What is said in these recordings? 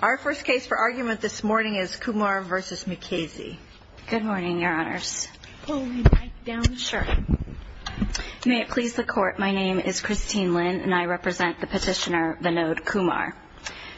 Our first case for argument this morning is Kumar v. Mukasey. Good morning, your honors. May it please the court, my name is Christine Lin and I represent the petitioner Vinod Kumar.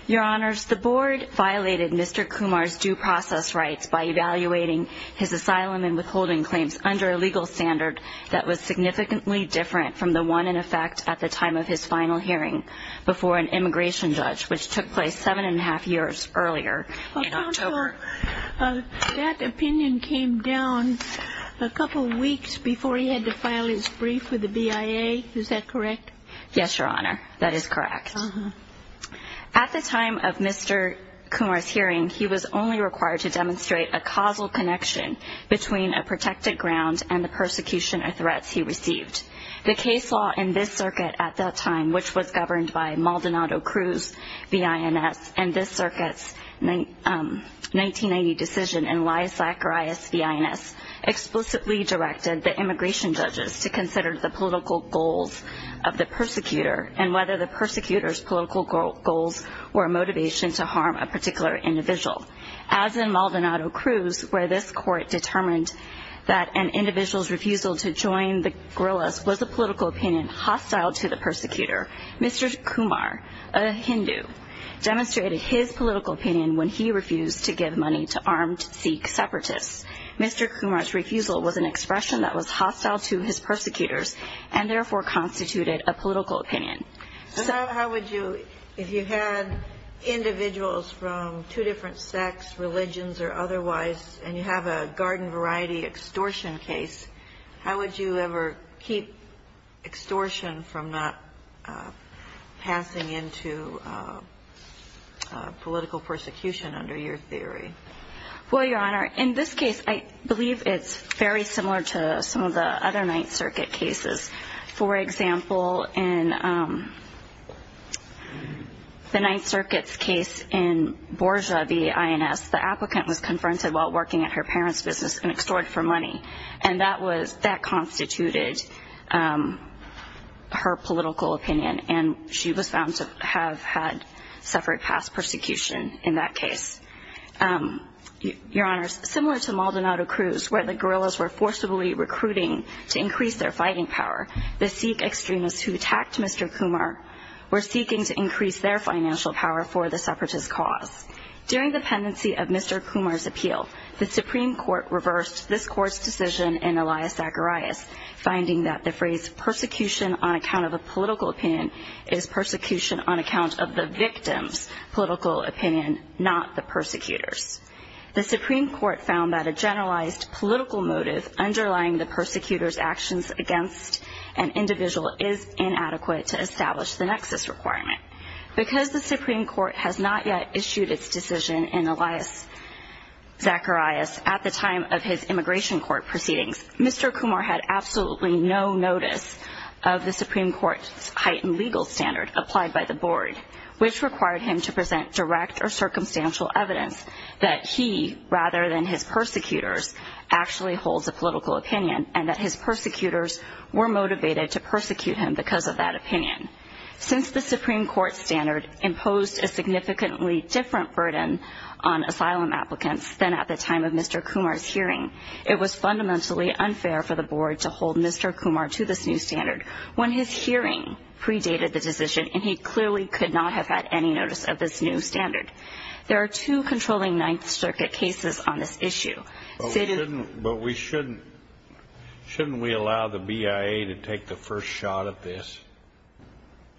Your honors, the board violated Mr. Kumar's due process rights by evaluating his asylum and withholding claims under a legal standard that was significantly different from the one in effect at the time of his final hearing before an immigration judge, which took place seven and a half years earlier in October. That opinion came down a couple of weeks before he had to file his brief with the BIA, is that correct? Yes, your honor, that is correct. At the time of Mr. Kumar's hearing, he was only required to demonstrate a causal connection between a protected ground and the persecution or threats he received. The case law in this circuit at that time, which was governed by Maldonado Cruz v. INS, and this circuit's 1990 decision in Liasac or IS v. INS, explicitly directed the immigration judges to consider the political goals of the persecutor and whether the persecutor's political goals were a motivation to harm a particular individual. As in Maldonado Cruz, where this court determined that an individual's refusal to join the guerrillas was a political opinion hostile to the persecutor, Mr. Kumar, a Hindu, demonstrated his political opinion when he refused to give money to armed Sikh separatists. Mr. Kumar's refusal was an expression that was hostile to his persecutors and therefore constituted a political opinion. So how would you, if you had individuals from two different sects, religions or otherwise, and you have a garden variety extortion case, how would you ever keep extortion from not passing into political persecution under your theory? Well, Your Honor, in this case, I believe it's very similar to some of the other Ninth Circuit cases. For example, in the Ninth Circuit's case in Borja v. INS, the applicant was confronted while working at her parents' business and extorted for money and that constituted her political opinion and she was found to have had suffered past persecution in that case. Your Honor, similar to Maldonado Cruz, where the guerrillas were forcibly recruiting to increase their fighting power, the Sikh extremists who attacked Mr. Kumar were seeking to increase their financial power for the separatist cause. During the pendency of Mr. Kumar's appeal, the Supreme Court reversed this Court's decision in Elias Zacharias, finding that the phrase persecution on account of a political opinion is persecution on account of the victim's political opinion, not the persecutor's. The Supreme Court found that a generalized political motive underlying the persecutor's actions against an individual is inadequate to establish the nexus requirement. Because the Supreme Court has not yet issued its decision in Elias Zacharias at the time of his immigration court proceedings, Mr. Kumar had absolutely no notice of the Supreme Court's heightened legal standard applied by the board, which required him to present direct or circumstantial evidence that he, rather than his persecutors, actually holds a political opinion and that his persecutors were motivated to persecute him because of that opinion. Since the Supreme Court's standard imposed a significantly different burden on asylum applicants than at the time of Mr. Kumar's hearing, it was fundamentally unfair for the board to hold Mr. Kumar to this new standard when his hearing predated the decision and he clearly could not have had any notice of this new standard. There are two controlling Ninth Circuit cases on this issue. But we shouldn't, shouldn't we allow the BIA to take the first shot at this,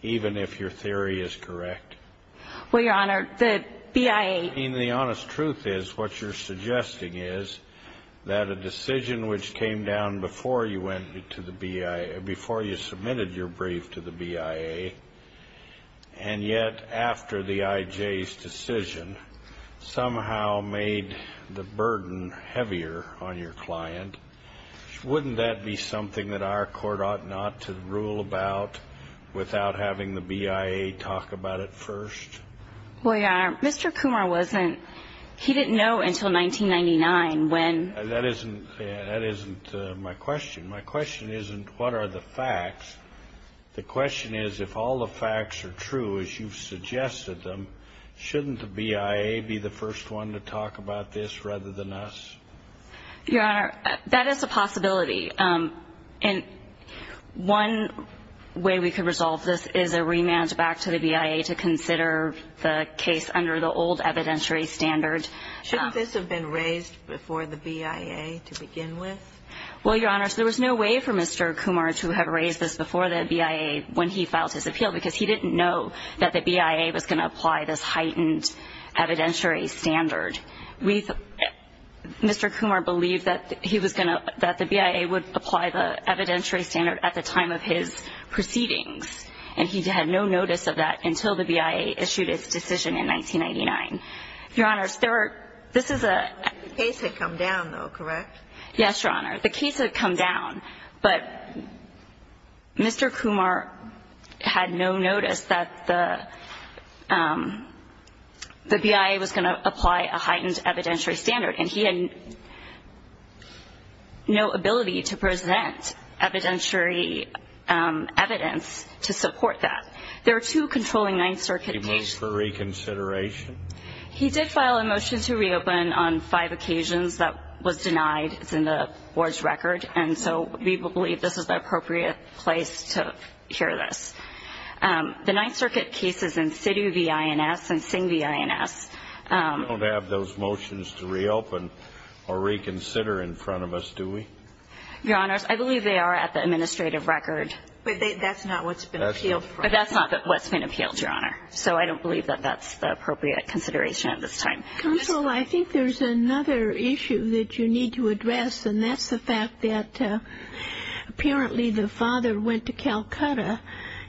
even if your theory is correct? Well, Your Honor, the BIA... I mean, the honest truth is what you're suggesting is that a decision which came down before you went to the BIA, before you submitted your brief to the BIA, and yet after the IJ's decision somehow made the burden heavier on your client. Wouldn't that be something that our court ought not to rule about without having the BIA talk about it first? Well, Your Honor, Mr. Kumar wasn't... he didn't know until 1999 when... That isn't my question. My question isn't what are the facts. The question is if all the facts are true as you've suggested them, shouldn't the BIA be the first one to talk about this rather than us? Your Honor, that is a possibility. And one way we could resolve this is a rematch back to the BIA to consider the case under the old evidentiary standard. Shouldn't this have been raised before the BIA to begin with? Well, Your Honor, there was no way for Mr. Kumar to have raised this before the BIA when he filed his appeal, because he didn't know that the BIA was going to apply this heightened evidentiary standard. We... Mr. Kumar believed that he was going to... that the BIA would apply the evidentiary standard at the time of his proceedings, and he had no notice of that until the BIA issued its decision in 1999. Your Honor, there are... this is a... The case had come down though, correct? Yes, Your Honor. The case had come down, but Mr. Kumar had no notice that the the BIA was going to apply a heightened evidentiary standard, and he had no ability to present evidentiary evidence to support that. There are two controlling Ninth Circuit cases... He moved for reconsideration? He did file a motion to reopen on five occasions that was denied. It's in the Board's record, and so we believe this is the appropriate place to hear this. The Ninth Circuit cases in SIDU v. INS and SINGH v. INS... We don't have those motions to reopen or reconsider in front of us, do we? Your Honors, I believe they are at the administrative record. But that's not what's been appealed. But that's not what's been appealed, Your Honor, so I don't believe that that's the appropriate consideration at this time. Counsel, I think there's another issue that you need to address, and that's the fact that apparently the father went to Calcutta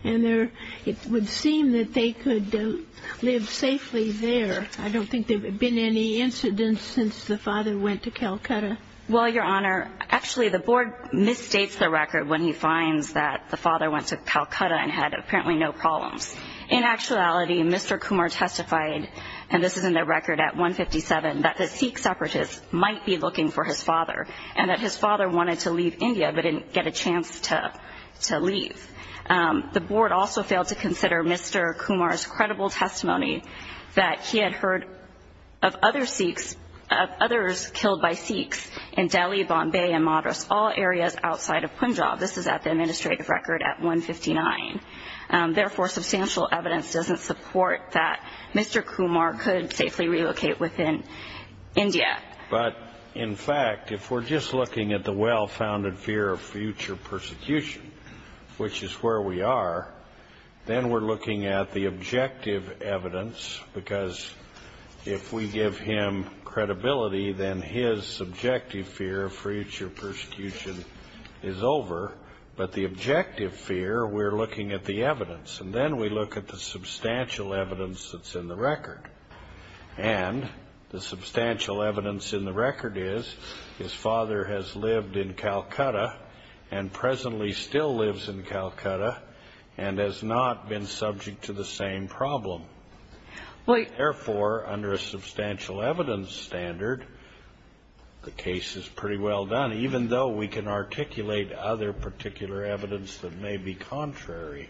and it would seem that they could live safely there. I don't think there have been any incidents since the father went to Calcutta. Well, Your Honor, actually the Board misstates the record when he finds that the father went to Calcutta and had apparently no problems. In actuality, Mr. Kumar testified, and this is in the record at 157, that the Sikh separatists might be looking for his father and that his father wanted to leave India but didn't get a chance to leave. The Board also failed to consider Mr. Kumar's credible testimony that he had heard of other killed by Sikhs in Delhi, Bombay, and Madras, all areas outside of Punjab. This is at the administrative record at 159. Therefore, substantial evidence doesn't support that Mr. Kumar could safely relocate within India. But in fact, if we're just looking at the well-founded fear of future persecution, which is where we are, then we're looking at the objective evidence, because if we give him credibility, then his subjective fear of future persecution is over. But the objective fear, we're looking at the evidence. And then we look at the substantial evidence that's in the record. And the substantial evidence in the record is his father has lived in Calcutta and presently still lives in Calcutta and has not been subject to the same problem. Therefore, under a substantial evidence standard, the case is pretty well done, even though we can articulate other particular evidence that may be contrary.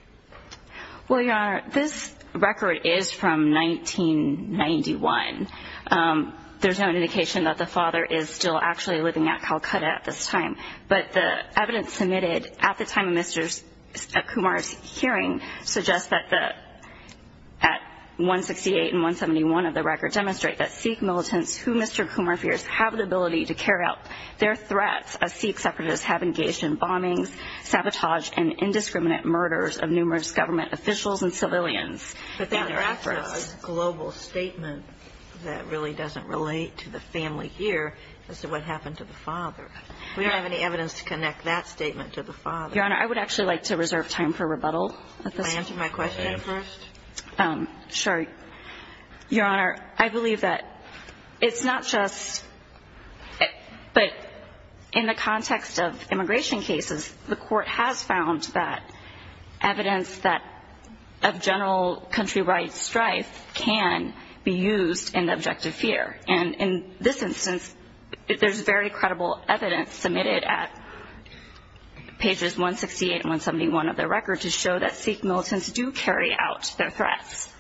Well, Your Honor, this record is from 1991. There's no indication that the father is still actually living at Calcutta at this time. But the evidence submitted at the time of Mr. Kumar's hearing suggests that 168 and 171 of the record demonstrate that Sikh militants who Mr. Kumar fears have the ability to carry out their threats as Sikh separatists have engaged in bombings, sabotage, and indiscriminate murders of numerous government officials and civilians. But then there's a global statement that really doesn't relate to the family here as to what happened to the father. We don't have any evidence to connect that statement to the father. Your Honor, I would actually like to reserve time for rebuttal at this point. Can I answer my question first? Sure. Your Honor, I believe that it's not just but in the context of immigration cases, the Court has found that evidence that of general country rights strife can be used in the objective fear. And in this instance, there's very credible evidence submitted at pages 168 and 171 of the record to show that Sikh militants do carry out their threats.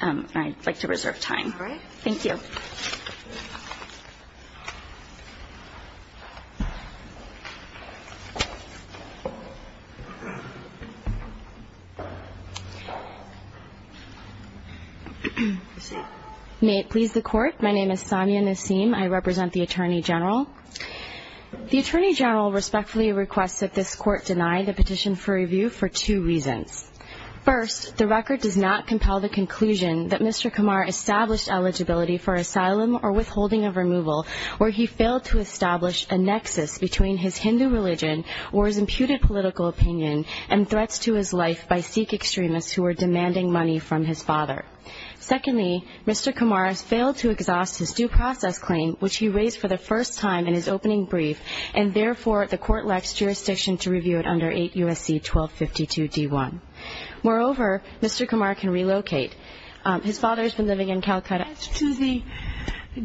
I'd like to reserve time. All right. Thank you. May it please the Court. My name is Samia Nasim. I represent the Attorney General. The Attorney General respectfully requests that this Court deny the petition for review for two reasons. First, the record does not compel the conclusion that Mr. Kumar established eligibility for asylum or withholding of removal where he failed to establish a nexus between his Hindu religion or his imputed political opinion and threats to his life by Sikh extremists who were demanding money from his father. Secondly, Mr. Kumar has failed to exhaust his due process claim which he raised for the first time in his opening brief and therefore the Court lacks jurisdiction to review it under 8 U.S.C. 1252 D1. Moreover, Mr. Kumar can relocate. His father has been living in Calcutta. As to the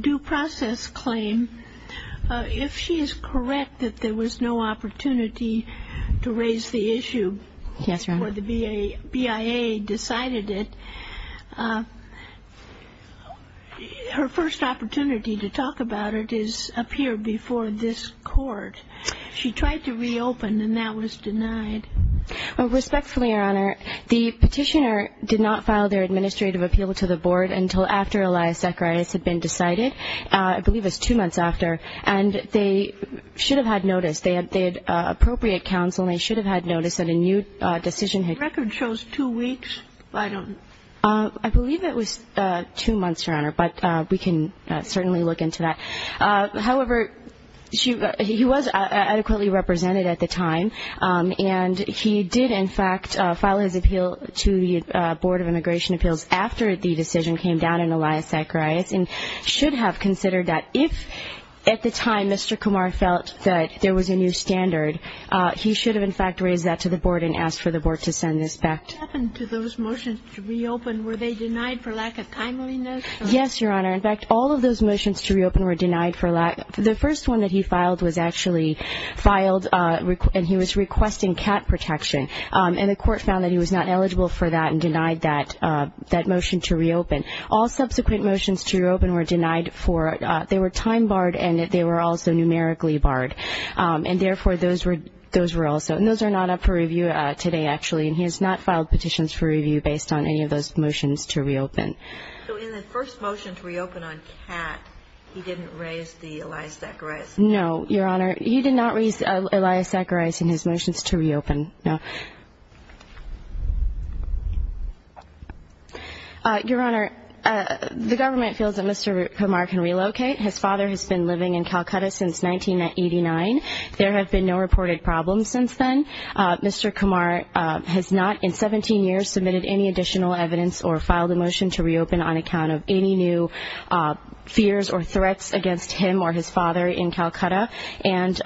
due process claim, if she is correct that there was no opportunity to raise the issue before the BIA decided it, her first opportunity to talk about it is up here before this Court. She tried to reopen and that was denied. Respectfully, Your Honor, the petitioner did not file their administrative appeal to the Board until after Elias Zacharias had been decided. I believe it was two months after and they should have had notice. They had appropriate counsel and they should have had notice that a new decision had been made. The record shows two weeks, but I don't know. I believe it was two months, Your Honor, but we can certainly look into that. However, he was adequately represented at the time and he did in fact file his appeal to the Board of Immigration Appeals after the decision came down in Elias Zacharias and should have considered that. If at the time Mr. Kumar felt that there was a new standard, he should have in fact raised that to the Board and asked for the Board to send this back. What happened to those motions to reopen? Were they denied for lack of timeliness? Yes, Your Honor. In fact, all of those motions to reopen were denied for lack... The first one that he filed was actually filed and he was requesting cat protection and the Court found that he was not eligible for that and denied that motion to reopen. All subsequent motions to reopen were denied for... They were time barred and they were also numerically barred and therefore those were also... And those are not up for review today actually and he has not filed petitions for review based on any of those motions to reopen. So in the first motion to reopen on cat, he didn't raise the Elias Zacharias? No, Your Honor. He did not raise Elias Zacharias in his motions to reopen? No. Your Honor, the government feels that Mr. Kumar can relocate. His father has been living in Calcutta since 1989. There have been no reported problems since then. Mr. Kumar has not in 17 years submitted any additional evidence or filed a motion to reopen on account of any new fears or threats against him or his father in Calcutta and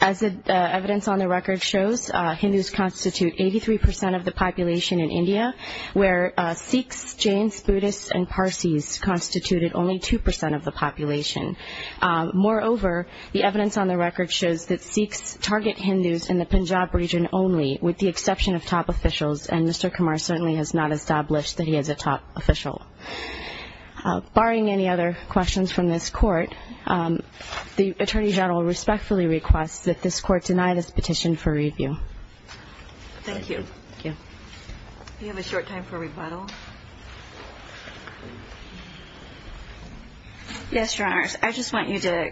as the record shows, Hindus constitute 83% of the population in India where Sikhs, Jains, Buddhists, and Parsis constituted only 2% of the population. Moreover, the evidence on the record shows that Sikhs target Hindus in the Punjab region only with the exception of top officials and Mr. Kumar certainly has not established that he is a top official. Barring any other questions from this petition for review. Thank you. Do you have a short time for rebuttal? Yes, Your Honor. I just want you to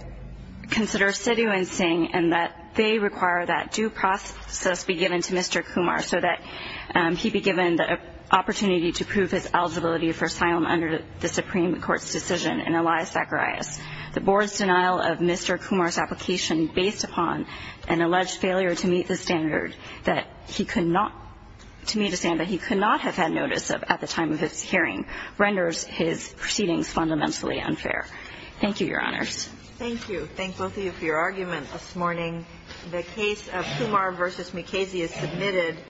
consider situancing and that they require that due process be given to Mr. Kumar so that he be given the opportunity to prove his eligibility for asylum under the Supreme Court's decision in Elias Zacharias. The board's denial of Mr. Kumar's based upon an alleged failure to meet the standard that he could not have had notice of at the time of his hearing renders his proceedings fundamentally unfair. Thank you, Your Honors. Thank you. Thank both of you for your argument this morning.